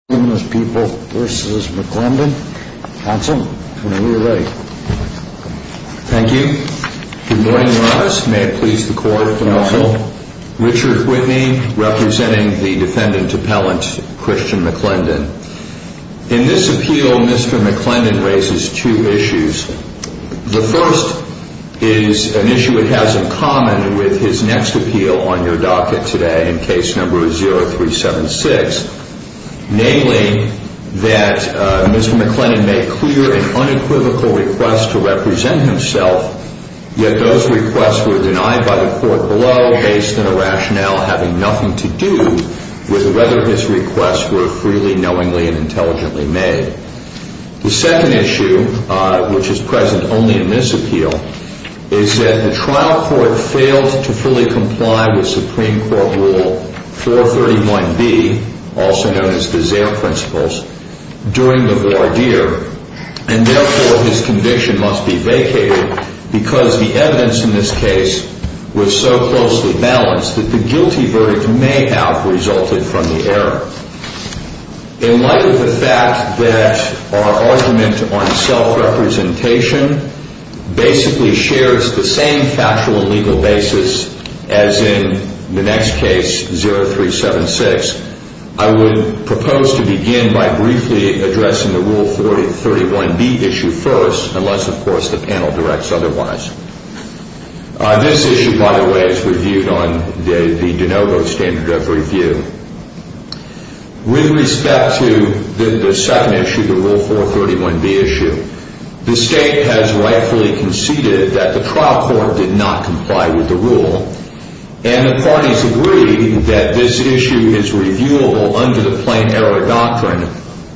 Mr. McClendon raises two issues. The first is an issue it has in common with his next that Mr. McClendon made clear and unequivocal requests to represent himself, yet those requests were denied by the court below based on a rationale having nothing to do with whether his requests were freely, knowingly, and intelligently made. The second issue, which is present only in this appeal, is that the trial court failed to fully comply with Supreme Court Rule 431B, also known as the Zaire Principles, during the voir dire, and therefore his conviction must be vacated because the evidence in this case was so closely balanced that the guilty verdict may have resulted from the error. In light of the fact that our argument on self-representation basically shares the same actual legal basis as in the next case, 0376, I would propose to begin by briefly addressing the Rule 431B issue first, unless, of course, the panel directs otherwise. This issue, by the way, is reviewed on the de novo standard of review. With respect to the second issue, the Rule 431B issue, the State has rightfully conceded that the trial court did not comply with the rule, and the parties agree that this issue is reviewable under the plain error doctrine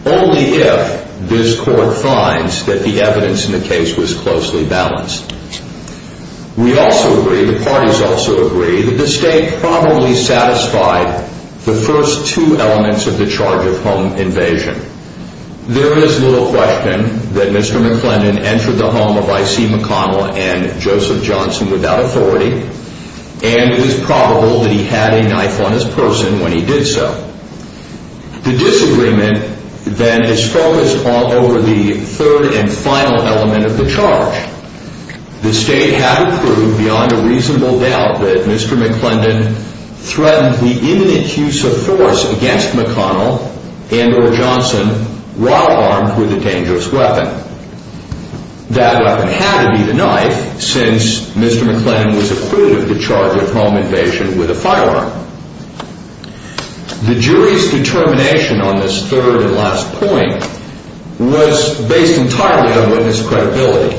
only if this court finds that the evidence in the case was closely balanced. We also agree, the parties also agree, that the State probably satisfied the first two elements of the charge of home invasion. There is little question that Mr. McClendon entered the home of I.C. McConnell and Joseph Johnson without authority, and it is probable that he had a knife on his person when he did so. The disagreement, then, is focused all over the third and final element of the charge. The State had to prove beyond a reasonable doubt that Mr. McClendon threatened the imminent use of force against McConnell and or Johnson, while armed with a dangerous weapon. That weapon had to be the knife, since Mr. McClendon was acquitted of the charge of home invasion with a firearm. The jury's determination on this third and last point was based entirely on witness credibility.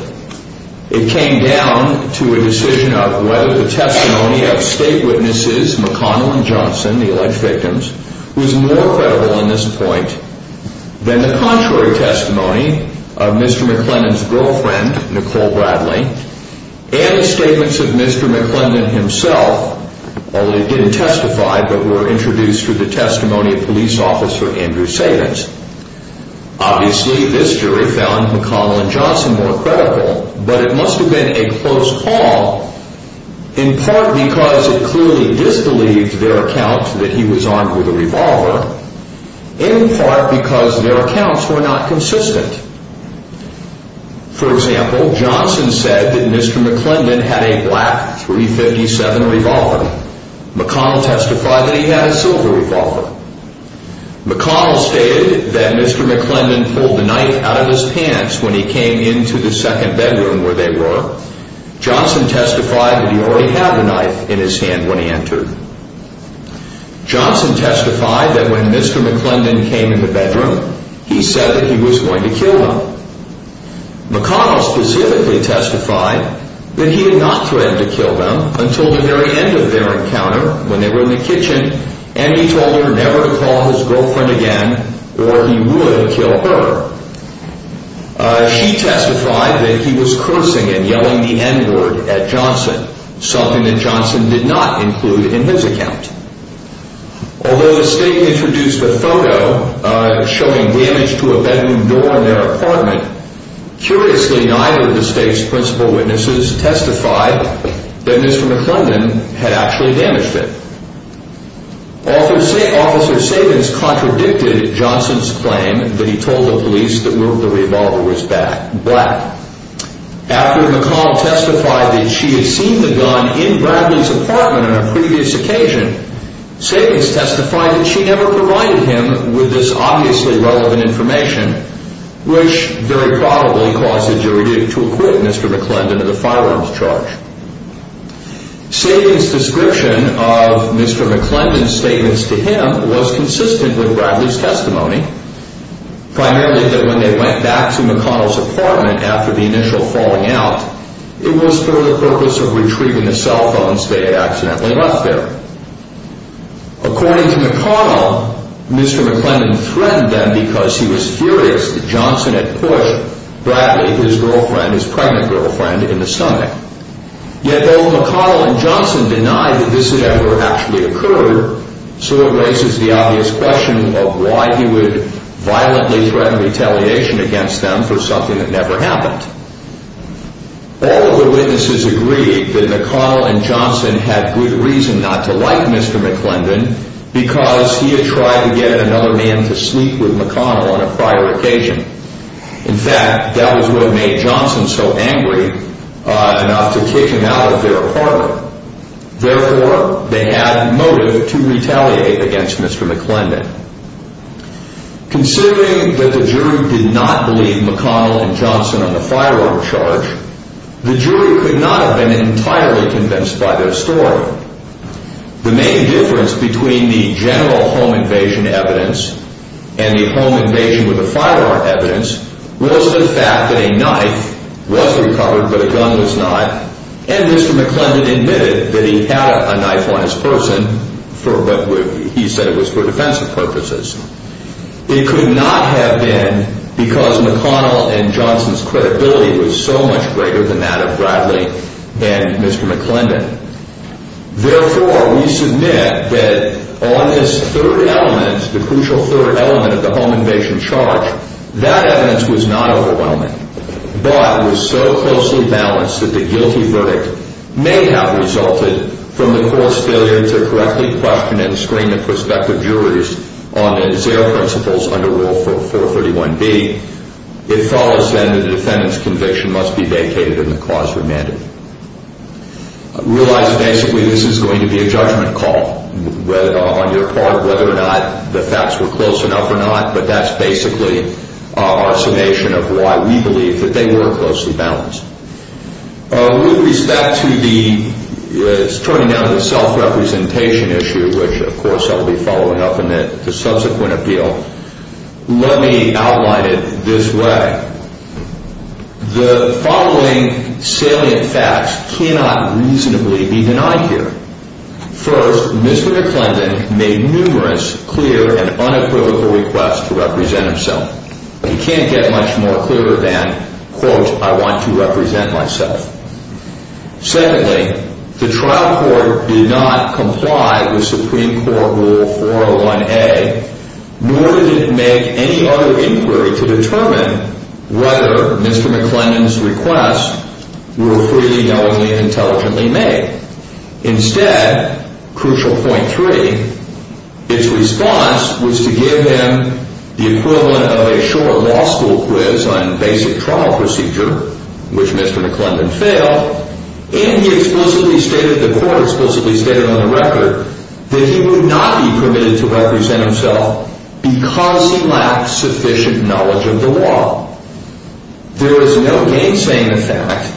It came down to a decision of whether the testimony of State witnesses McConnell and Johnson, who were alleged victims, was more credible on this point than the contrary testimony of Mr. McClendon's girlfriend, Nicole Bradley, and the statements of Mr. McClendon himself, although they didn't testify but were introduced through the testimony of police officer Andrew Savitz. Obviously, this jury found McConnell and Johnson more credible, but it must have been a close call, in part because it clearly disbelieved their account that he was armed with a revolver, in part because their accounts were not consistent. For example, Johnson said that Mr. McClendon had a black .357 revolver. McConnell testified that he had a silver revolver. McConnell stated that Mr. McClendon pulled the knife out of his pants when he came into the second bedroom where they were. Johnson testified that he already had a knife in his hand when he entered. Johnson testified that when Mr. McClendon came in the bedroom, he said that he was going to kill them. McConnell specifically testified that he had not threatened to kill them until the very end of their encounter when they were in the kitchen, and he told her never to call his girlfriend again or he would kill her. She testified that he was cursing and yelling the N-word at Johnson, something that Johnson did not include in his account. Although the State introduced a photo showing damage to a bedroom door in their apartment, curiously neither of the State's principal witnesses testified that Mr. McClendon had actually damaged it. Officer Sabins contradicted Johnson's claim that he told the police that the revolver was black. After McColl testified that she had seen the gun in Bradley's apartment on a previous occasion, Sabins testified that she never provided him with this obviously relevant information, which very probably caused the jury to acquit Mr. McClendon of the firearms charge. Sabins' description of Mr. McClendon's statements to him was consistent with Bradley's testimony, primarily that when they went back to McConnell's apartment after the initial falling out, it was for the purpose of retrieving the cell phones they had accidentally left there. According to McConnell, Mr. McClendon threatened them because he was furious that Johnson had pushed Bradley, his girlfriend, his pregnant girlfriend, in the stomach. Yet though McConnell and Johnson denied that this had ever actually occurred, so it raises the obvious question of why he would violently threaten retaliation against them for something that never happened. All of the witnesses agreed that McConnell and Johnson had good reason not to like Mr. McClendon because he had tried to get another man to sleep with McConnell on a prior occasion. In fact, that was what made Johnson so angry enough to kick him out of their apartment. Therefore, they had motive to retaliate against Mr. McClendon. Considering that the jury did not believe McConnell and Johnson on the firearms charge, the jury could not have been entirely convinced by their story. The main difference between the general home invasion evidence and the home invasion with the firearm evidence was the fact that a knife was recovered but a gun was not, and Mr. McClendon admitted that he had a knife on his person, but he said it was for defensive purposes. It could not have been because McConnell and Johnson's credibility was so much greater than that of Bradley and Mr. McClendon. Therefore, we submit that on this third element, the crucial third element of the home invasion charge, that evidence was not overwhelming but was so closely balanced that the guilty verdict may have resulted from the court's failure to correctly question and screen the prospective juries on the Zaire principles under Rule 431B. It follows then that the defendant's conviction must be vacated and the cause remanded. Realize basically this is going to be a judgment call on your part whether or not the facts were close enough or not, but that's basically our summation of why we believe that they were closely balanced. With respect to the self-representation issue, which of course I will be following up in the subsequent appeal, let me outline it this way. The following salient facts cannot reasonably be denied here. First, Mr. McClendon made numerous clear and unequivocal requests to represent himself. He can't get much more clear than, quote, I want to represent myself. Secondly, the trial court did not comply with Supreme Court Rule 401A, nor did it make any other inquiry to determine whether Mr. McClendon's requests were freely, knowingly, and intelligently made. Instead, crucial point three, its response was to give him the equivalent of a short law school quiz on basic trial procedure, which Mr. McClendon failed, and he explicitly stated, the court explicitly stated on the record, that he would not be permitted to represent himself because he lacked sufficient knowledge of the law. There is no gainsaying effect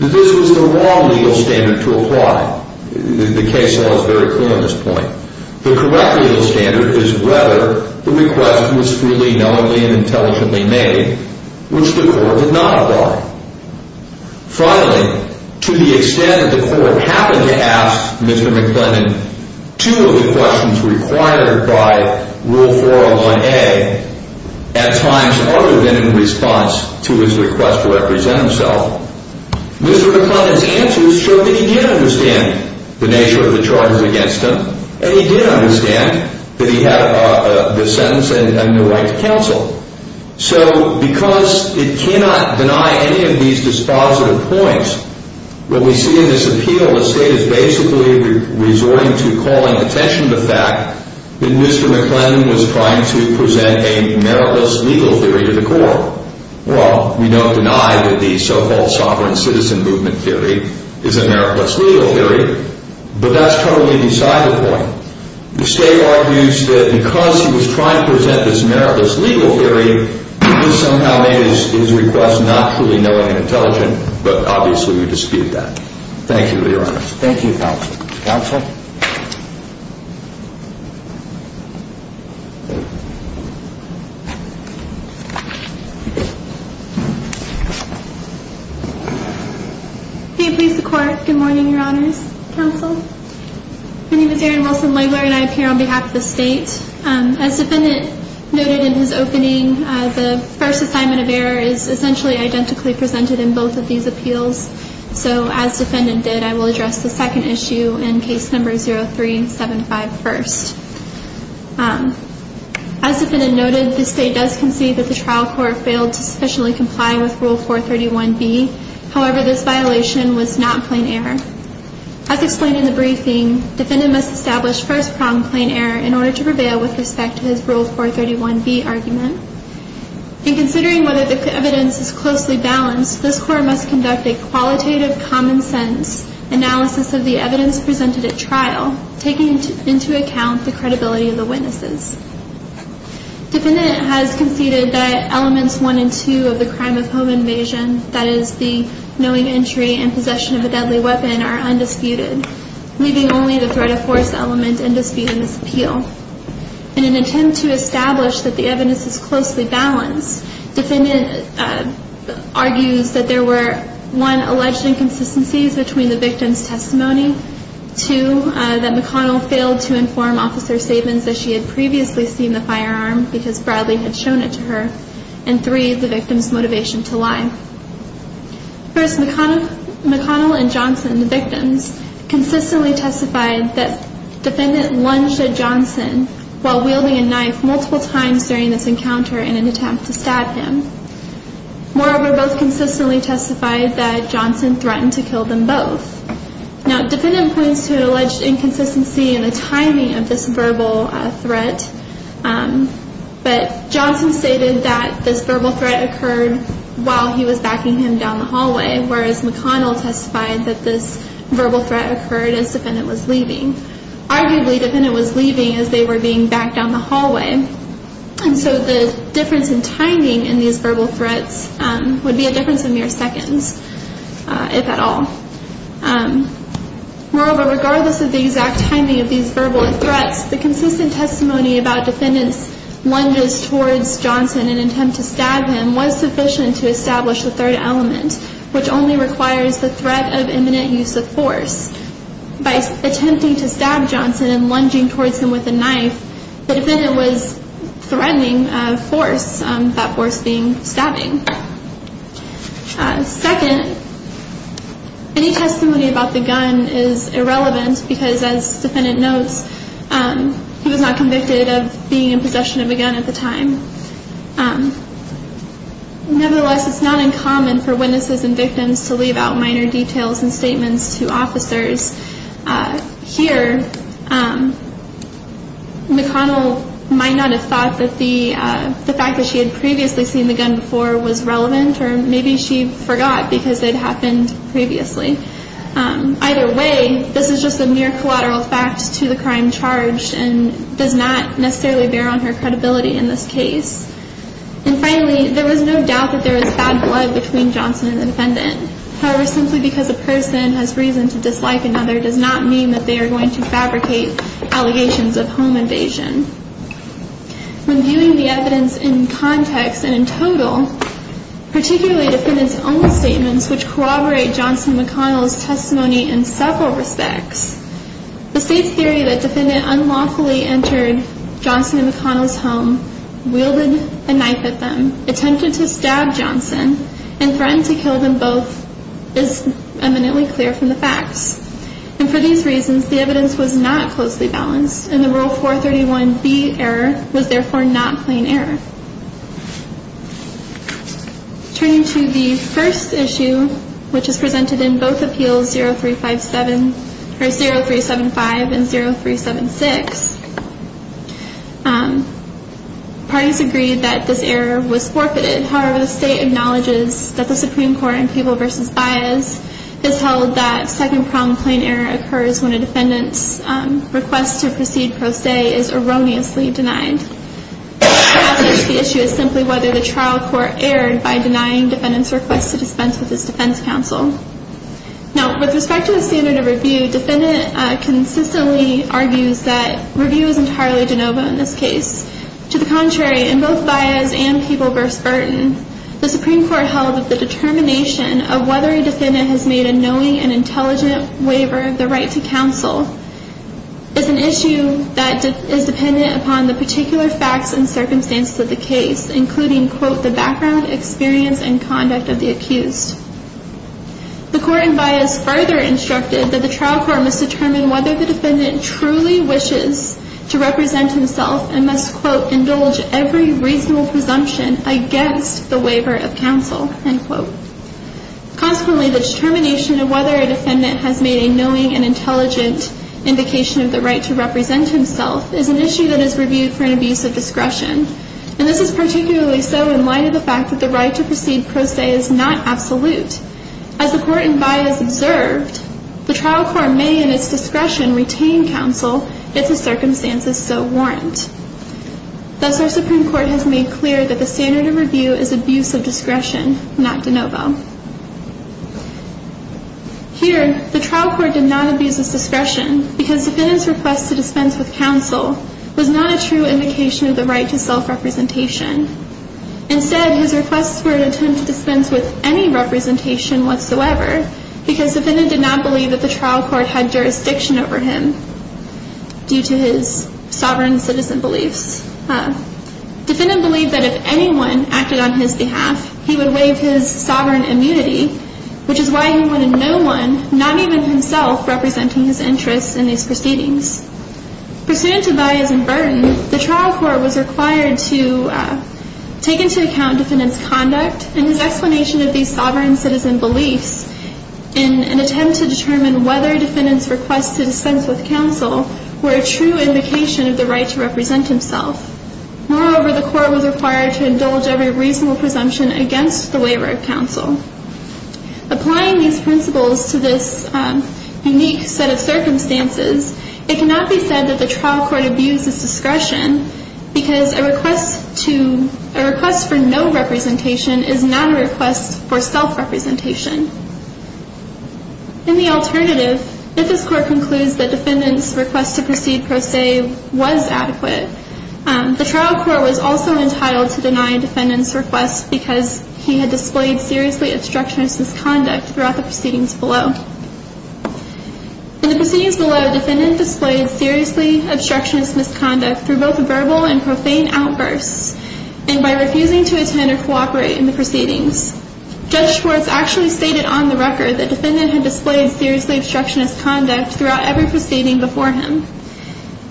that this was the wrong legal standard to apply. The case law is very clear on this point. The correct legal standard is whether the request was freely, knowingly, and intelligently made, which the court did not apply. Finally, to the extent that the court happened to ask Mr. McClendon two of the questions required by Rule 401A at times other than in response to his request to represent himself, Mr. McClendon's answers showed that he did understand the nature of the charges against him, and he did understand that he had the sentence and the right to counsel. So because it cannot deny any of these dispositive points, what we see in this appeal, the state is basically resorting to calling attention to the fact that Mr. McClendon was trying to present a meritless legal theory to the court. Well, we don't deny that the so-called sovereign citizen movement theory is a meritless legal theory, but that's totally beside the point. The state argues that because he was trying to present this meritless legal theory, it was somehow made his request not truly knowing and intelligent, but obviously we dispute that. Thank you, Your Honor. Thank you, Counsel. Counsel? May it please the Court. Good morning, Your Honors. Counsel? My name is Erin Wilson-Langler, and I appear on behalf of the state. As the defendant noted in his opening, the first assignment of error is essentially identically presented in both of these appeals. So as the defendant did, I will address the second issue in case number 0375 first. As the defendant noted, the state does concede that the trial court failed to address the rule 431B. However, this violation was not plain error. As explained in the briefing, defendant must establish first-pronged plain error in order to prevail with respect to his rule 431B argument. In considering whether the evidence is closely balanced, this Court must conduct a qualitative common-sense analysis of the evidence presented at trial, taking into account the credibility of the witnesses. to prevail with respect to his rule 431B argument. or, more importantly, the nature of the evidence. In an attempt to establish that the evidence is closely balanced, I will talk for a moment about the difference between a message made by the defendant and the fact that the author presented evidence to the witness, inottigating breaks out of three articles in the testimony. The message was a white notice, with Jiegan Smith, prosecution executive, mentioning both 好吃 H 설명 peppers cooking under police law. Judged in this case to be defrauding of little evidence, the witness, as reportedly indicated, is presented with an undisputed indication of recommendation or intent to celebrate achievement. and possession of a deadly weapon, are undisputed the victim's motivation to lie. First, McConnell and Johnson, the victims, consistently testified that the defendant lunged at Johnson while wielding a knife multiple times during this encounter in an attempt to stab him. Moreover, both consistently testified that Johnson threatened to kill them both. Now, the defendant points to an alleged inconsistency in the timing of this verbal threat, but Johnson stated that this verbal threat occurred while he was backing him down the hallway, whereas McConnell testified that this verbal threat occurred as the defendant was leaving. Arguably, the defendant was leaving as they were being backed down the hallway, and so the difference in timing in these verbal threats would be a difference of mere seconds, if at all. Moreover, regardless of the exact timing of these verbal threats, the consistent testimony about the defendant's lunges towards Johnson in an attempt to stab him was sufficient to establish the third element, which only requires the threat of imminent use of force. By attempting to stab Johnson and lunging towards him with a knife, the defendant was threatening force, that force being stabbing. Second, any testimony about the gun is irrelevant because, as the defendant notes, he was not convicted of being in possession of a gun at the time. Nevertheless, it's not uncommon for witnesses and victims to leave out minor details and statements to officers. Here, McConnell might not have thought that the fact that she had previously seen the gun before was relevant, or maybe she forgot because it happened previously. Either way, this is just a mere collateral fact to the crime charged and does not necessarily bear on her credibility in this case. And finally, there was no doubt that there was bad blood between Johnson and the defendant. However, simply because a person has reason to dislike another does not mean that they are going to fabricate allegations of home invasion. When viewing the evidence in context and in total, particularly the defendant's own statements which corroborate Johnson and McConnell's testimony in several respects, the state's theory that the defendant unlawfully entered Johnson and McConnell's home, wielded a knife at them, attempted to stab Johnson, and threatened to kill them both is eminently clear from the facts. And for these reasons, the evidence was not closely balanced, and the Rule 431B error was therefore not plain error. Turning to the first issue, which is presented in both Appeals 0375 and 0376, parties agreed that this error was forfeited. However, the state acknowledges that the Supreme Court in People v. Baez has held that second problem plain error occurs when a defendant's request to proceed pro se is erroneously denied. The passage of the issue is simply whether the trial court erred by denying the defendant's request to dispense with his defense counsel. Now, with respect to the standard of review, the defendant consistently argues that review is entirely de novo in this case. To the contrary, in both Baez and People v. Burton, the Supreme Court held that the determination of whether a defendant has made a knowing and intelligent waiver of the right to counsel is an issue that is dependent upon the particular facts and circumstances of the case, including the background, experience, and conduct of the accused. The court in Baez further instructed that the trial court must determine whether the defendant truly wishes to represent himself and must, quote, indulge every reasonable presumption against the waiver of counsel, end quote. Consequently, the determination of whether a defendant has made a knowing and intelligent indication of the right to represent himself is an issue that is reviewed for an abuse of discretion. And this is particularly so in light of the fact that the right to proceed pro se is not absolute. As the court in Baez observed, the trial court may, in its discretion, retain counsel if the circumstances so warrant. Thus, our Supreme Court has made clear that the standard of review is abuse of discretion, not de novo. Here, the trial court did not abuse of discretion because the defendant's request to dispense with counsel was not a true indication of the right to self-representation. Instead, his requests were an attempt to dispense with any representation whatsoever because the defendant did not believe that the trial court had jurisdiction over him due to his sovereign citizen beliefs. Defendant believed that if anyone acted on his behalf, he would waive his sovereign immunity, which is why he wanted no one, not even himself, representing his interests in these proceedings. Pursuant to Baez and Burton, the trial court was required to take into account defendant's conduct and his explanation of these sovereign citizen beliefs in an attempt to determine whether defendant's requests to dispense with counsel were a true indication of the right to represent himself. Moreover, the court was required to indulge every reasonable presumption against the waiver of counsel. Applying these principles to this unique set of circumstances, it cannot be said that the trial court abused its discretion because a request for no representation is not a request for self-representation. In the alternative, if this court concludes that defendant's request to proceed per se was adequate, the trial court was also entitled to deny defendant's request because he had displayed seriously obstructionist misconduct throughout the proceedings below. In the proceedings below, defendant displayed seriously obstructionist misconduct through both verbal and profane outbursts and by refusing to attend or cooperate in the proceedings. Judge Schwartz actually stated on the record that defendant had displayed seriously obstructionist conduct throughout every proceeding before him.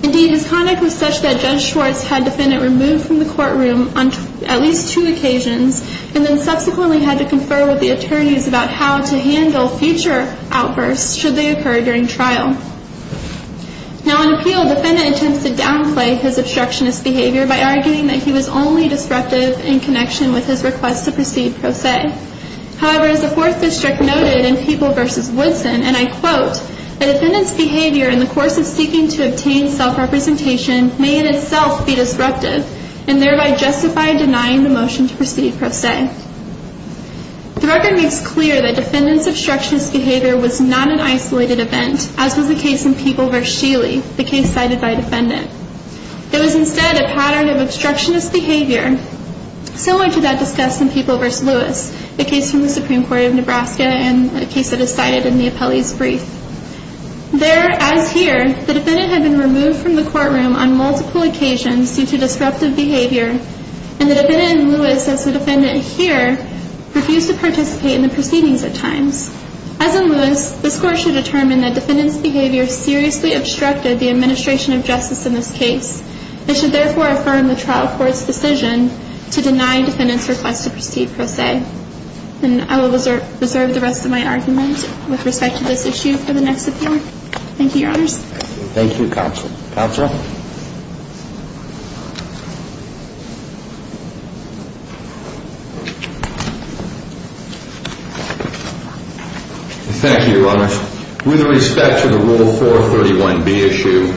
Indeed, his conduct was such that Judge Schwartz had defendant removed from the courtroom on at least two occasions and then subsequently had to confer with the attorneys about how to handle future outbursts should they occur during trial. Now, in appeal, defendant attempts to downplay his obstructionist behavior by arguing that he was only disruptive in connection with his request to proceed per se. However, as the Fourth District noted in People v. Woodson, and I quote, the defendant's behavior in the course of seeking to obtain self-representation may in itself be disruptive and thereby justify denying the motion to proceed per se. The record makes clear that defendant's obstructionist behavior was not an isolated event, as was the case in People v. Shealy, the case cited by defendant. It was instead a pattern of obstructionist behavior similar to that discussed in People v. Lewis, the case from the Supreme Court of Nebraska and a case that is cited in the appellee's brief. There, as here, the defendant had been removed from the courtroom on multiple occasions due to disruptive behavior, and the defendant in Lewis, as the defendant here, refused to participate in the proceedings at times. As in Lewis, the score should determine that defendant's behavior seriously obstructed the administration of justice in this case and should therefore affirm the trial court's decision to deny defendant's request to proceed per se. And I will reserve the rest of my argument with respect to this issue for the next appeal. Thank you, Your Honors. Thank you, Counsel. Counsel? Thank you, Your Honors. With respect to the Rule 431B issue,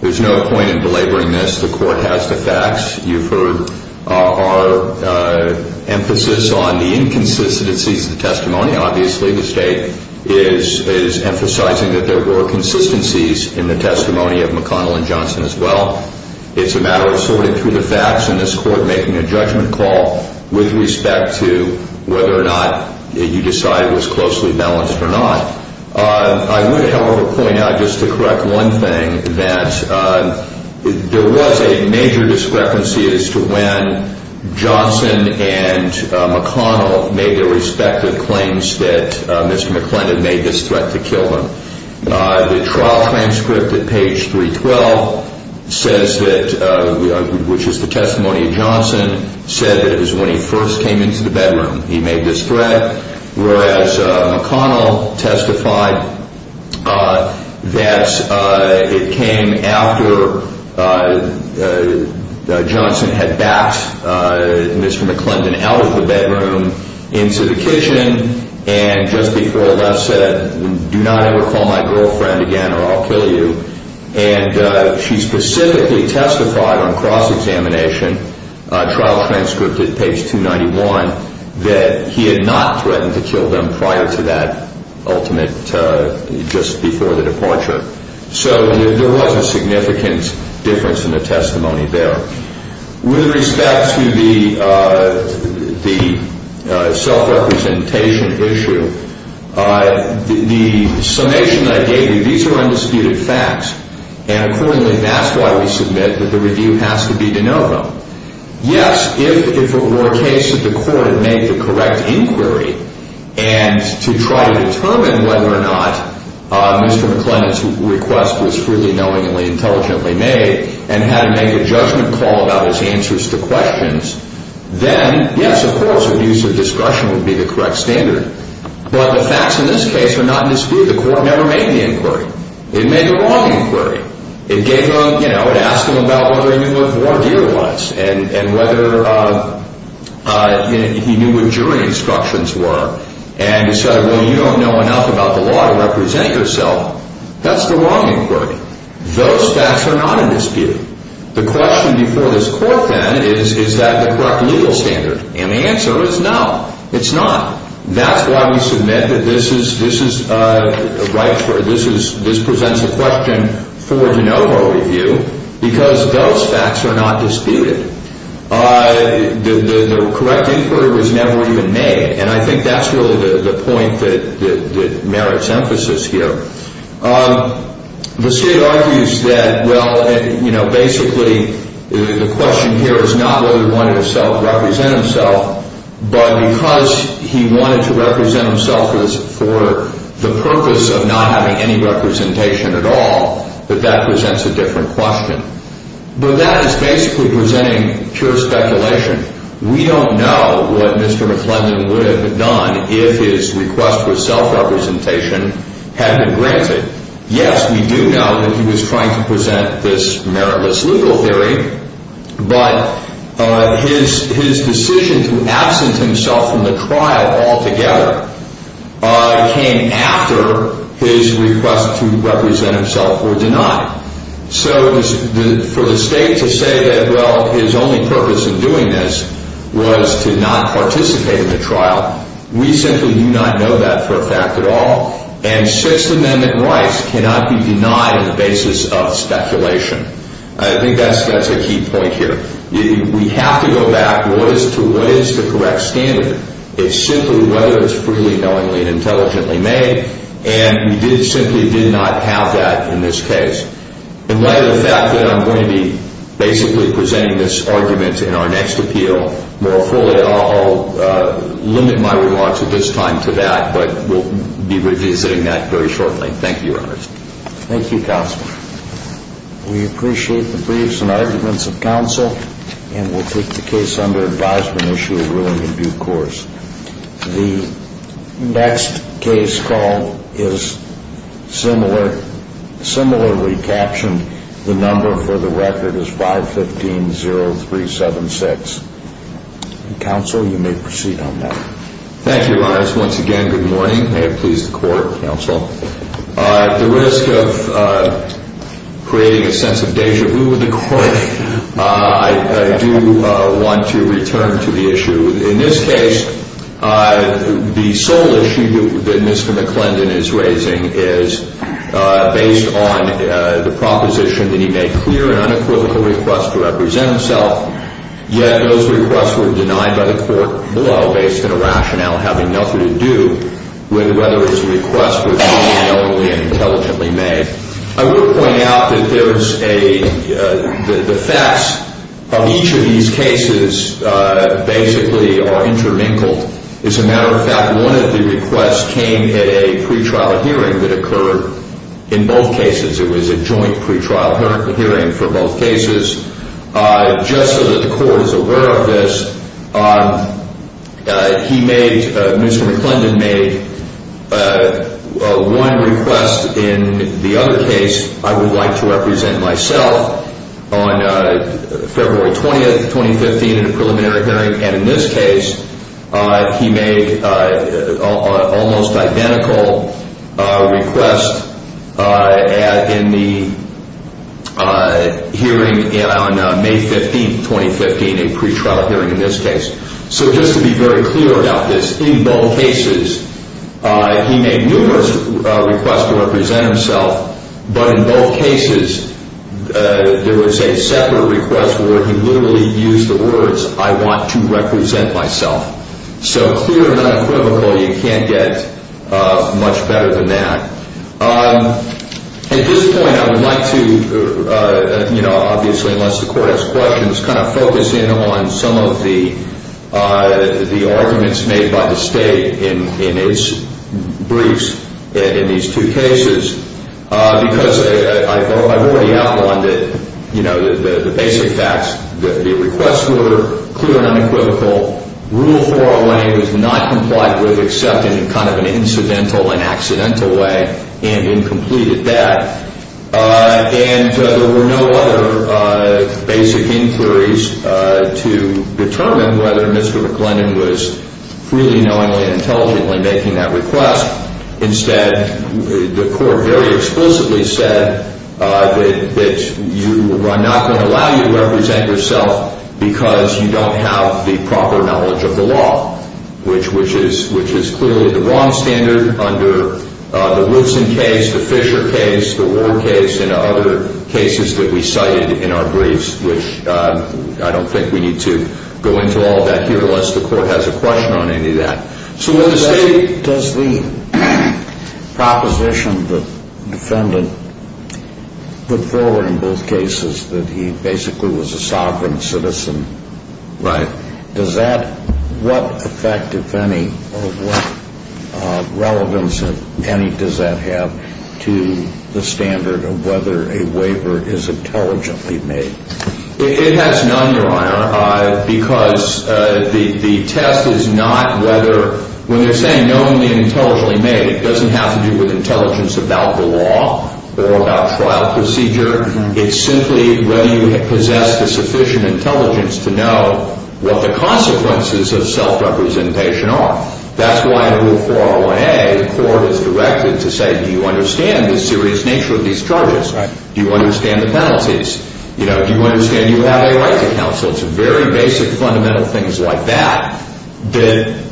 there's no point in belaboring this. The Court has the facts. You've heard our emphasis on the inconsistencies of the testimony. Obviously, the State is emphasizing that there were consistencies in the testimony of McConnell and Johnson as well. It's a matter of sorting through the facts and this Court making a judgment call with respect to whether or not you decide it was closely balanced or not. I would, however, point out just to correct one thing that there was a major discrepancy as to when Johnson and McConnell made their respective claims that Mr. McClendon made this threat to kill them. The trial transcript at page 312 says that, which is the testimony of Johnson, said that it was when he first came into the bedroom he made this threat, whereas McConnell testified that it came after Johnson had backed Mr. McClendon out of the bedroom into the kitchen and just before left said, do not ever call my girlfriend again or I'll kill you. And she specifically testified on cross-examination trial transcript at page 291 that he had not threatened to kill them prior to that ultimate, just before the departure. So there was a significant difference in the testimony there. With respect to the self-representation issue, the summation I gave you, these are undisputed facts. And accordingly, that's why we submit that the review has to be de novo. Yes, if it were a case that the Court had made the correct inquiry and to try to determine whether or not Mr. McClendon's request was freely, knowingly, intelligently made and had to make a judgment call about his answers to questions, then, yes, of course, a review of discretion would be the correct standard. But the facts in this case are not in dispute. The Court never made the inquiry. It made the wrong inquiry. It gave them, you know, it asked them about whether he knew what voir dire was and whether he knew what jury instructions were and decided, well, you don't know enough about the law to represent yourself. That's the wrong inquiry. Those facts are not in dispute. The question before this Court then is, is that the correct legal standard? And the answer is no, it's not. That's why we submit that this presents a question for de novo review because those facts are not disputed. The correct inquiry was never even made, and I think that's really the point that merits emphasis here. The State argues that, well, you know, basically the question here is not whether he wanted to self-represent himself, but because he wanted to represent himself for the purpose of not having any representation at all, that that presents a different question. But that is basically presenting pure speculation. We don't know what Mr. McClendon would have done if his request for self-representation had been granted. Yes, we do know that he was trying to present this meritless legal theory, but his decision to absent himself from the trial altogether came after his request to represent himself were denied. So for the State to say that, well, his only purpose in doing this was to not participate in the trial, we simply do not know that for a fact at all. And Sixth Amendment rights cannot be denied on the basis of speculation. I think that's a key point here. We have to go back to what is the correct standard. It's simply whether it's freely, knowingly, and intelligently made, and we simply did not have that in this case. And like the fact that I'm going to be basically presenting this argument in our next appeal more fully, I'll limit my remarks at this time to that, but we'll be revisiting that very shortly. Thank you, Your Honor. Thank you, Counsel. We appreciate the briefs and arguments of counsel, and we'll take the case under advisement, issue a ruling in due course. The next case call is similarly captioned. The number for the record is 515-0376. Counsel, you may proceed on that. Thank you, Your Honor. Once again, good morning. May it please the Court, Counsel. At the risk of creating a sense of deja vu with the Court, I do want to return to the issue. In this case, the sole issue that Mr. McClendon is raising is based on the proposition that he made clear an unequivocal request to represent himself, yet those requests were denied by the Court below based on a rationale having nothing to do with whether his request was knowingly and intelligently made. I will point out that the facts of each of these cases basically are intermingled. As a matter of fact, one of the requests came at a pretrial hearing that occurred in both cases. It was a joint pretrial hearing for both cases. Just so that the Court is aware of this, Mr. McClendon made one request. In the other case, I would like to represent myself on February 20, 2015, in a preliminary hearing. And in this case, he made an almost identical request in the hearing on May 15, 2015, a pretrial hearing in this case. So just to be very clear about this, in both cases, he made numerous requests to represent himself, but in both cases, there was a separate request where he literally used the words, I want to represent myself. So clear and unequivocal, you can't get much better than that. At this point, I would like to, you know, obviously, unless the Court has questions, kind of focus in on some of the arguments made by the State in its briefs in these two cases. Because I've already outlined it, you know, the basic facts. The requests were clear and unequivocal. Rule 408 was not complied with except in kind of an incidental and accidental way and incompleted that. And there were no other basic inquiries to determine whether Mr. McLennan was freely, knowingly, intelligently making that request. Instead, the Court very explicitly said that I'm not going to allow you to represent yourself because you don't have the proper knowledge of the law, which is clearly the wrong standard under the Woodson case, the Fisher case, the Ward case, and other cases that we cited in our briefs, which I don't think we need to go into all of that here unless the Court has a question on any of that. So when the State… Does the proposition the defendant put forward in both cases that he basically was a sovereign citizen, does that – what effect, if any, or what relevance, if any, does that have to the standard of whether a waiver is intelligently made? It has none, Your Honor, because the test is not whether – when they're saying knowingly and intelligently made, it doesn't have to do with intelligence about the law or about trial procedure. It's simply whether you possess the sufficient intelligence to know what the consequences of self-representation are. That's why in Rule 401A, the Court is directed to say, do you understand the serious nature of these charges? Do you understand the penalties? Do you understand you have a right to counsel? It's very basic, fundamental things like that that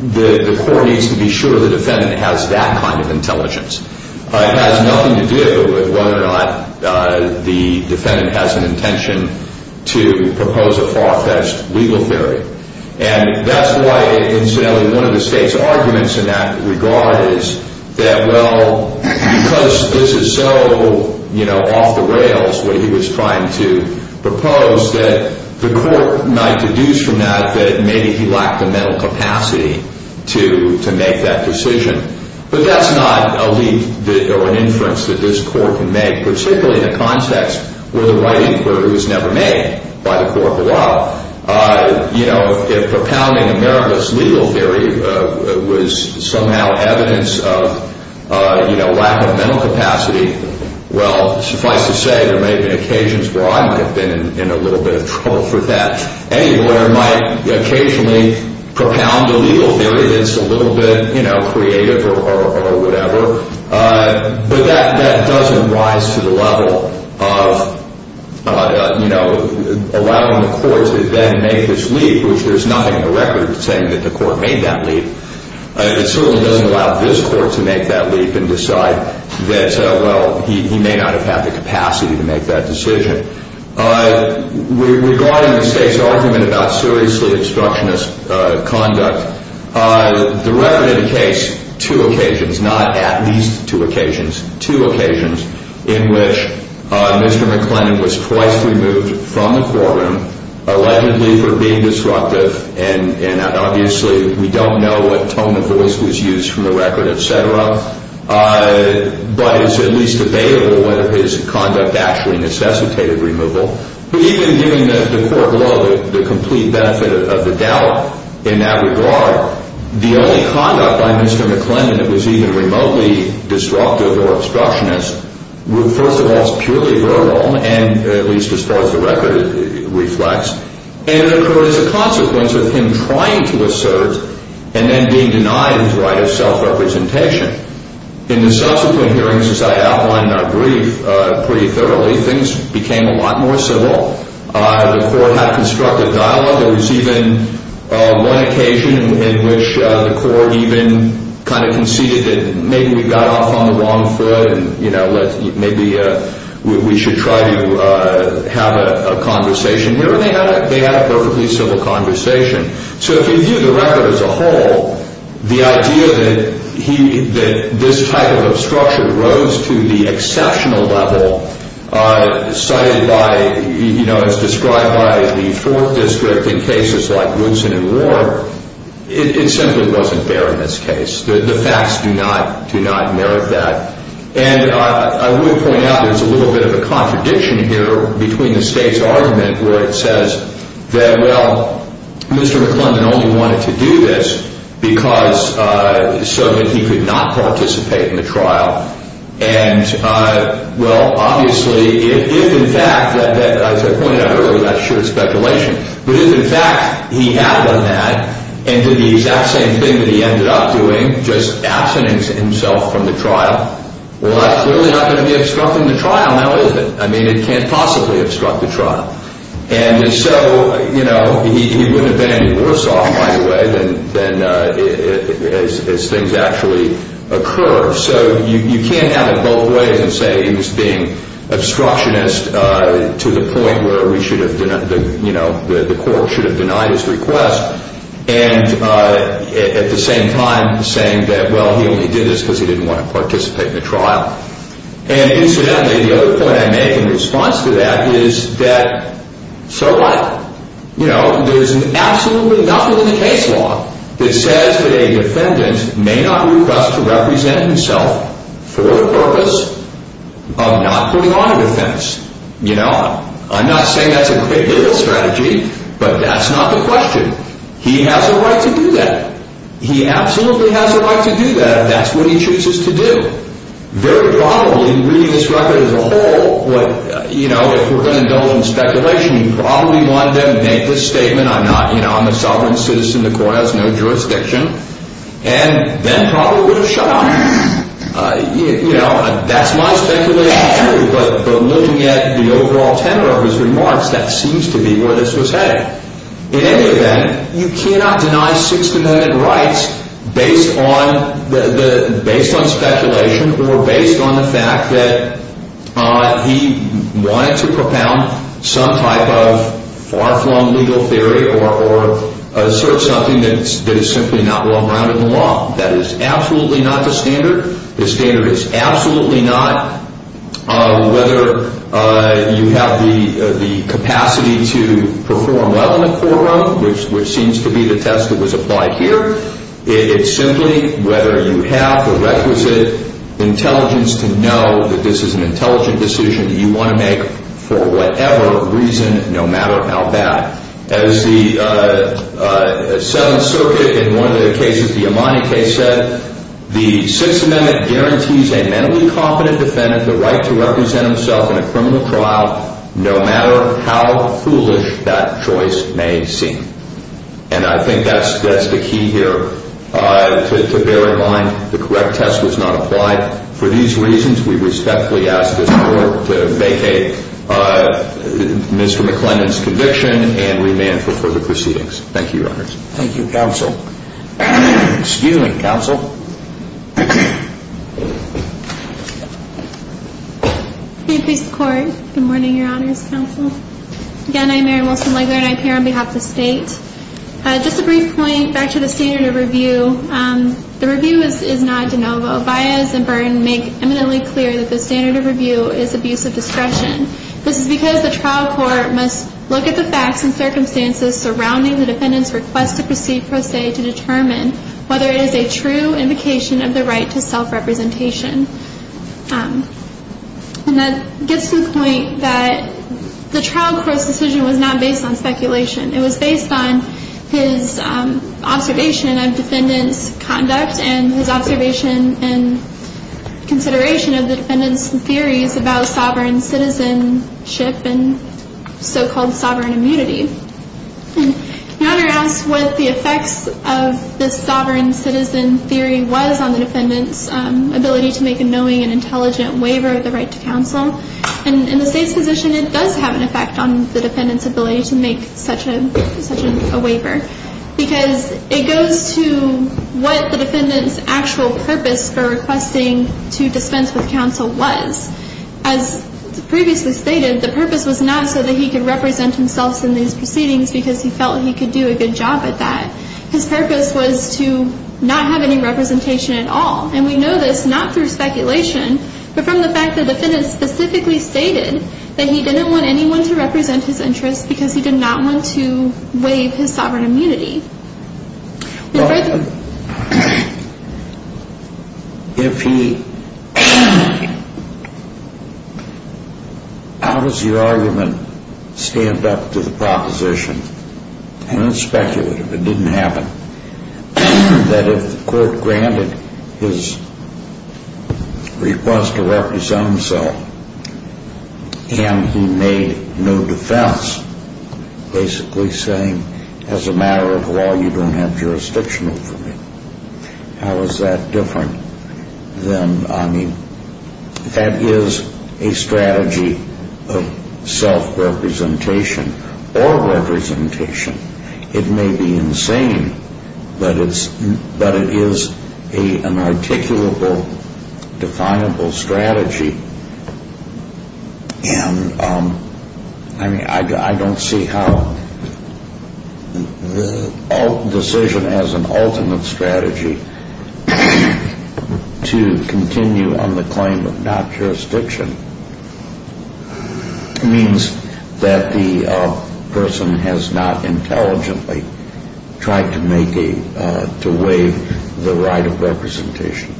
the Court needs to be sure the defendant has that kind of intelligence. It has nothing to do with whether or not the defendant has an intention to propose a far-fetched legal theory. And that's why, incidentally, one of the State's arguments in that regard is that, well, because this is so, you know, off the rails, what he was trying to propose, that the Court might deduce from that that maybe he lacked the mental capacity to make that decision. But that's not a leak or an inference that this Court can make, particularly in a context where the right inquiry was never made by the Court of Law. You know, if propounding America's legal theory was somehow evidence of, you know, lack of mental capacity, well, suffice to say there may have been occasions where I might have been in a little bit of trouble for that. Any lawyer might occasionally propound the legal theory that's a little bit, you know, creative or whatever. But that doesn't rise to the level of, you know, allowing the Court to then make this leak, which there's nothing in the record saying that the Court made that leak. It certainly doesn't allow this Court to make that leak and decide that, well, he may not have had the capacity to make that decision. Regarding the State's argument about seriously obstructionist conduct, the record indicates two occasions, not at least two occasions, two occasions in which Mr. McLennan was twice removed from the courtroom allegedly for being disruptive. And obviously we don't know what tone of voice was used from the record, et cetera. But it's at least debatable whether his conduct actually necessitated removal. But even giving the Court law the complete benefit of the doubt in that regard, the only conduct by Mr. McLennan that was even remotely disruptive or obstructionist was first of all purely verbal, and at least as far as the record reflects. And it occurred as a consequence of him trying to assert and then being denied his right of self-representation. In the subsequent hearings, as I outlined in our brief pretty thoroughly, things became a lot more civil. The Court had a constructive dialogue. There was even one occasion in which the Court even kind of conceded that maybe we got off on the wrong foot and, you know, maybe we should try to have a conversation. Remember, they had a perfectly civil conversation. So if you view the record as a whole, the idea that this type of obstruction rose to the exceptional level cited by, you know, as described by the Fourth District in cases like Woodson and Ward, it simply wasn't fair in this case. The facts do not merit that. And I would point out there's a little bit of a contradiction here between the State's argument where it says that, well, Mr. McLennan only wanted to do this because so that he could not participate in the trial. And, well, obviously, if in fact that, as I pointed out earlier, that's sheer speculation, but if in fact he had done that and did the exact same thing that he ended up doing, just absenting himself from the trial, well, that's clearly not going to be obstructing the trial, now, is it? I mean, it can't possibly obstruct the trial. And so, you know, he wouldn't have been any worse off, by the way, than as things actually occur. So you can't have it both ways and say he was being obstructionist to the point where we should have, you know, the court should have denied his request and at the same time saying that, well, he only did this because he didn't want to participate in the trial. And incidentally, the other point I make in response to that is that so what? You know, there's absolutely nothing in the case law that says that a defendant may not request to represent himself for the purpose of not putting on a defense. You know, I'm not saying that's a great legal strategy, but that's not the question. He has a right to do that. He absolutely has a right to do that if that's what he chooses to do. Very probably, reading this record as a whole, what, you know, if we're going to build on speculation, you probably want them to make this statement, I'm not, you know, I'm a sovereign citizen of the court. I have no jurisdiction. And then probably would have shut up. You know, that's my speculation, too. But looking at the overall tenor of his remarks, that seems to be where this was headed. In any event, you cannot deny six defendant rights based on speculation or based on the fact that he wanted to propound some type of far-flung legal theory or assert something that is simply not well-grounded in the law. That is absolutely not the standard. The standard is absolutely not whether you have the capacity to perform well in a courtroom, which seems to be the test that was applied here. It's simply whether you have the requisite intelligence to know that this is an intelligent decision that you want to make for whatever reason, no matter how bad. As the Seventh Circuit in one of the cases, the Imani case, said, the Sixth Amendment guarantees a mentally competent defendant the right to represent himself in a criminal trial no matter how foolish that choice may seem. And I think that's the key here to bear in mind. The correct test was not applied for these reasons. We respectfully ask this Court to vacate Mr. McLennan's conviction and remand for further proceedings. Thank you, Your Honors. Thank you, Counsel. Excuse me, Counsel. Good morning, Your Honors, Counsel. Again, I'm Mary Wilson-Legler, and I appear on behalf of the State. Just a brief point back to the standard of review. The review is not de novo. Baez and Byrne make eminently clear that the standard of review is abuse of discretion. This is because the trial court must look at the facts and circumstances surrounding the defendant's request to proceed pro se to determine whether it is a true invocation of the right to self-representation. And that gets to the point that the trial court's decision was not based on speculation. It was based on his observation of defendant's conduct and his observation and consideration of the defendant's theories about sovereign citizenship and so-called sovereign immunity. Your Honor asks what the effects of this sovereign citizen theory was on the defendant's ability to make a knowing and intelligent waiver of the right to counsel. And in the State's position, it does have an effect on the defendant's ability to make such a waiver because it goes to what the defendant's actual purpose for requesting to dispense with counsel was. As previously stated, the purpose was not so that he could represent himself in these proceedings because he felt he could do a good job at that. His purpose was to not have any representation at all. And we know this not through speculation, but from the fact the defendant specifically stated that he didn't want anyone to represent his interests because he did not want to waive his sovereign immunity. Well, if he – how does your argument stand up to the proposition, and it's speculative, it didn't happen, that if the court granted his request to represent himself and he made no defense, basically saying as a matter of law you don't have jurisdiction over me, how is that different than – I mean, that is a strategy of self-representation or representation. It may be insane, but it is an articulable, definable strategy. And I mean, I don't see how the decision as an alternate strategy to continue on the claim of not jurisdiction means that the person has not intelligently tried to make a – to waive the right of representation.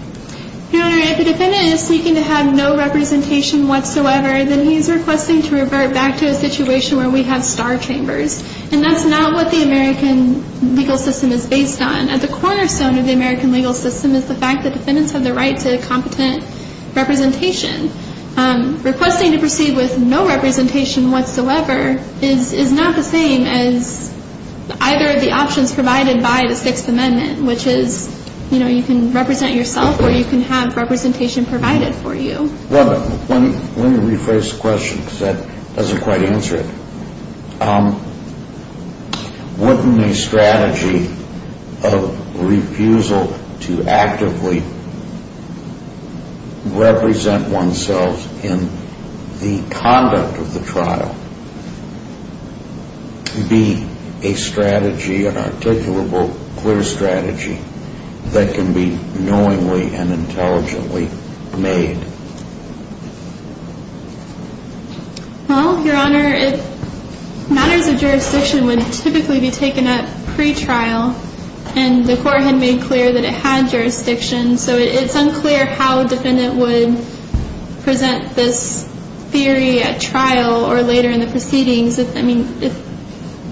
Your Honor, if the defendant is seeking to have no representation whatsoever, then he is requesting to revert back to a situation where we have star chambers. And that's not what the American legal system is based on. At the cornerstone of the American legal system is the fact that defendants have the right to competent representation. Requesting to proceed with no representation whatsoever is not the same as either of the options provided by the Sixth Amendment, which is, you know, you can represent yourself or you can have representation provided for you. Well, let me rephrase the question because that doesn't quite answer it. Wouldn't a strategy of refusal to actively represent oneself in the conduct of the trial be a strategy, an articulable, clear strategy that can be knowingly and intelligently made? Well, Your Honor, matters of jurisdiction would typically be taken up pre-trial, and the Court had made clear that it had jurisdiction, so it's unclear how a defendant would present this theory at trial or later in the proceedings. I mean,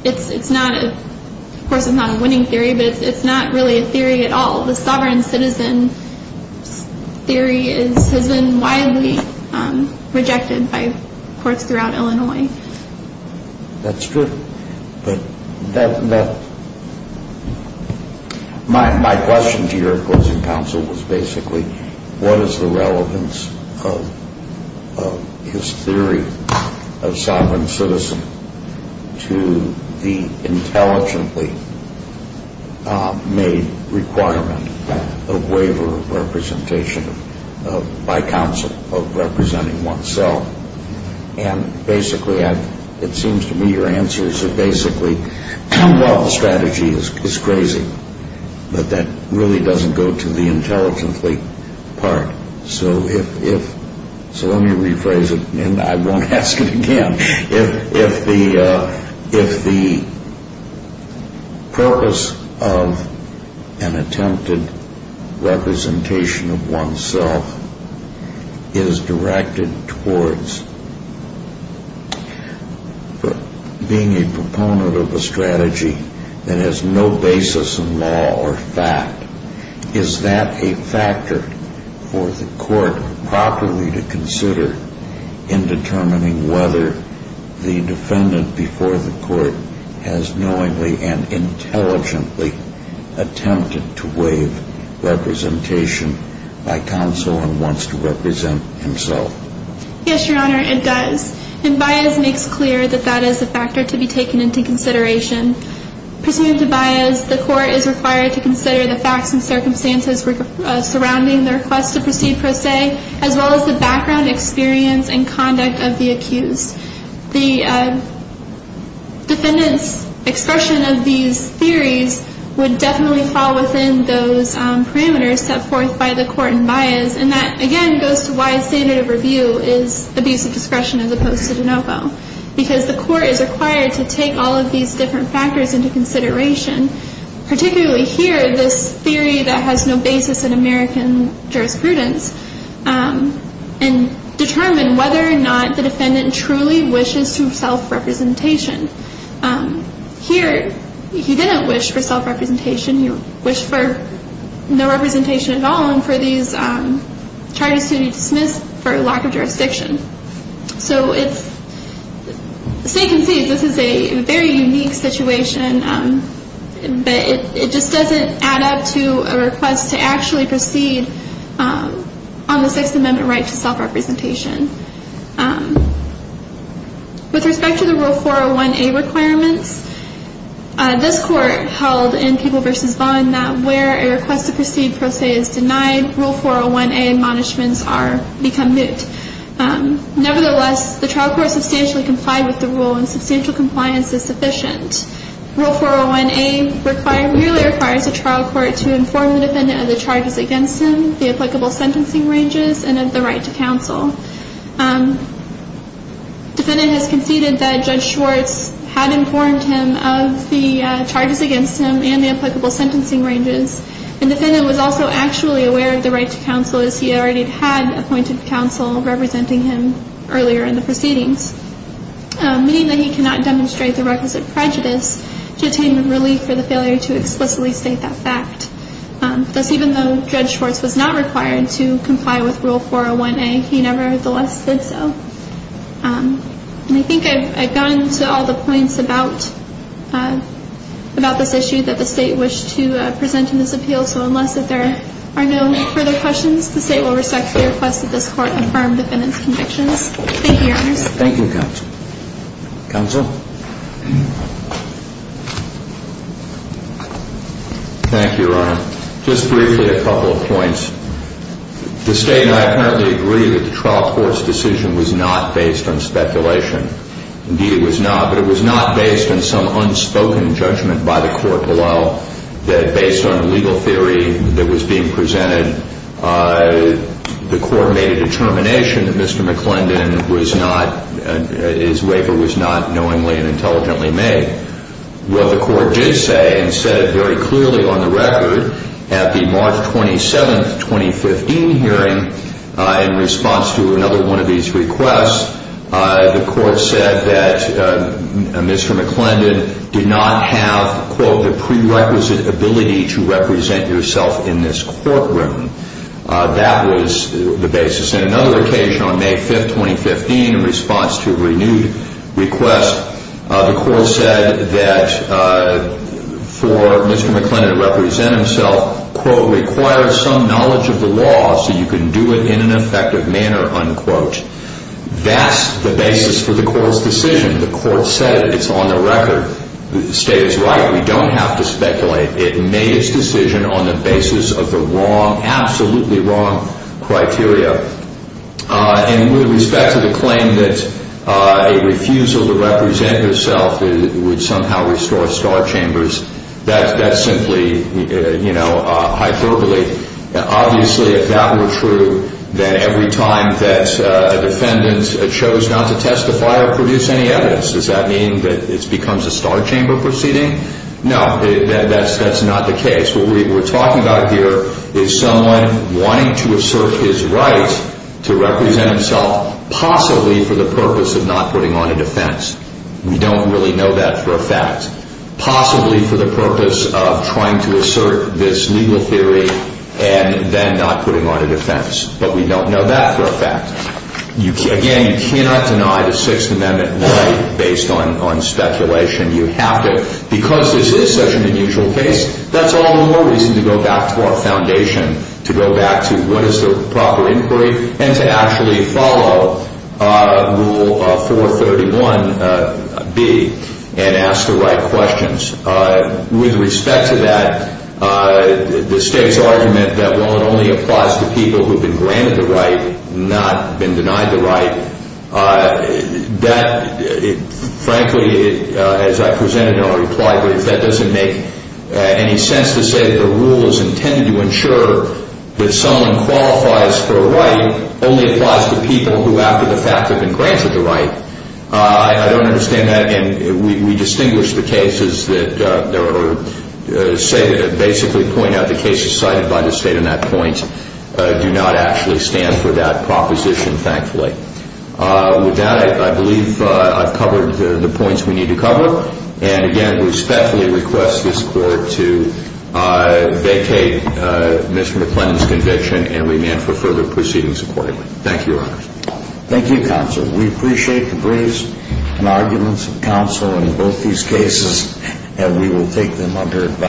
it's not a – of course, it's not a winning theory, but it's not really a theory at all. The sovereign citizen theory has been widely rejected by courts throughout Illinois. That's true. My question to your opposing counsel was basically, what is the relevance of his theory of sovereign citizen to the intelligently made requirement of waiver of representation by counsel of representing oneself? And basically, it seems to me your answers are basically, well, the strategy is crazy, but that really doesn't go to the intelligently part. So if – so let me rephrase it, and I won't ask it again. If the purpose of an attempted representation of oneself is directed towards being a proponent of a strategy that has no basis in law or fact, is that a factor for the Court properly to consider in determining whether the defendant before the Court has knowingly and intelligently attempted to waive representation by counsel and wants to represent himself? Yes, Your Honor, it does. And Baez makes clear that that is a factor to be taken into consideration. Pursuant to Baez, the Court is required to consider the facts and circumstances surrounding the request to proceed per se, as well as the background experience and conduct of the accused. The defendant's expression of these theories would definitely fall within those parameters set forth by the Court in Baez, and that, again, goes to why standard of review is abuse of discretion as opposed to de novo, because the Court is required to take all of these different factors into consideration, particularly here, this theory that has no basis in American jurisprudence, and determine whether or not the defendant truly wishes to self-representation. Here, he didn't wish for self-representation. He wished for no representation at all and for these charges to be dismissed for lack of jurisdiction. So it's safe to say this is a very unique situation, but it just doesn't add up to a request to actually proceed on the Sixth Amendment right to self-representation. With respect to the Rule 401A requirements, this Court held in Peeble v. Vaughan that where a request to proceed per se is denied, Rule 401A admonishments become moot. Nevertheless, the trial court substantially complied with the rule and substantial compliance is sufficient. Rule 401A merely requires the trial court to inform the defendant of the charges against him, the applicable sentencing ranges, and of the right to counsel. The defendant has conceded that Judge Schwartz had informed him of the charges against him and the applicable sentencing ranges. The defendant was also actually aware of the right to counsel, as he already had appointed counsel representing him earlier in the proceedings, meaning that he cannot demonstrate the requisite prejudice to attain relief for the failure to explicitly state that fact. Thus, even though Judge Schwartz was not required to comply with Rule 401A, he nevertheless did so. And I think I've gotten to all the points about this issue that the State wished to present in this appeal, so unless there are no further questions, the State will respectfully request that this Court affirm the defendant's convictions. Thank you, Your Honors. Thank you, Counsel. Counsel? Thank you, Your Honor. Just briefly, a couple of points. The State and I apparently agree that the trial court's decision was not based on speculation. Indeed, it was not, but it was not based on some unspoken judgment by the court below that, based on the legal theory that was being presented, the court made a determination that Mr. McClendon was not, his waiver was not knowingly and intelligently made. Well, the court did say, and said it very clearly on the record, at the March 27, 2015 hearing, in response to another one of these requests, the court said that Mr. McClendon did not have, quote, the prerequisite ability to represent yourself in this courtroom. That was the basis. In another occasion, on May 5, 2015, in response to a renewed request, the court said that for Mr. McClendon to represent himself, quote, requires some knowledge of the law so you can do it in an effective manner, unquote. That's the basis for the court's decision. The court said it. It's on the record. The State is right. We don't have to speculate. It made its decision on the basis of the wrong, absolutely wrong criteria. And with respect to the claim that a refusal to represent herself would somehow restore star chambers, that's simply, you know, hyperbole. Obviously, if that were true, then every time that a defendant chose not to testify or produce any evidence, does that mean that it becomes a star chamber proceeding? No, that's not the case. What we're talking about here is someone wanting to assert his right to represent himself, possibly for the purpose of not putting on a defense. We don't really know that for a fact. Possibly for the purpose of trying to assert this legal theory and then not putting on a defense. But we don't know that for a fact. Again, you cannot deny the Sixth Amendment right based on speculation. You have to. Because this is such an unusual case, that's all the more reason to go back to our foundation, to go back to what is the proper inquiry, and to actually follow Rule 431B and ask the right questions. With respect to that, the State's argument that while it only applies to people who have been granted the right, not been denied the right, that, frankly, as I presented in our reply brief, that doesn't make any sense to say that the rule is intended to ensure that someone qualifies for a right only applies to people who, after the fact, have been granted the right. I don't understand that. And we distinguish the cases that basically point out the cases cited by the State on that point do not actually stand for that proposition, thankfully. With that, I believe I've covered the points we need to cover. And, again, we respectfully request this Court to vacate Mr. McLennan's conviction and remand for further proceedings accordingly. Thank you, Your Honor. Thank you, Counsel. We appreciate the briefs and arguments of counsel in both these cases, and we will take them under advisement.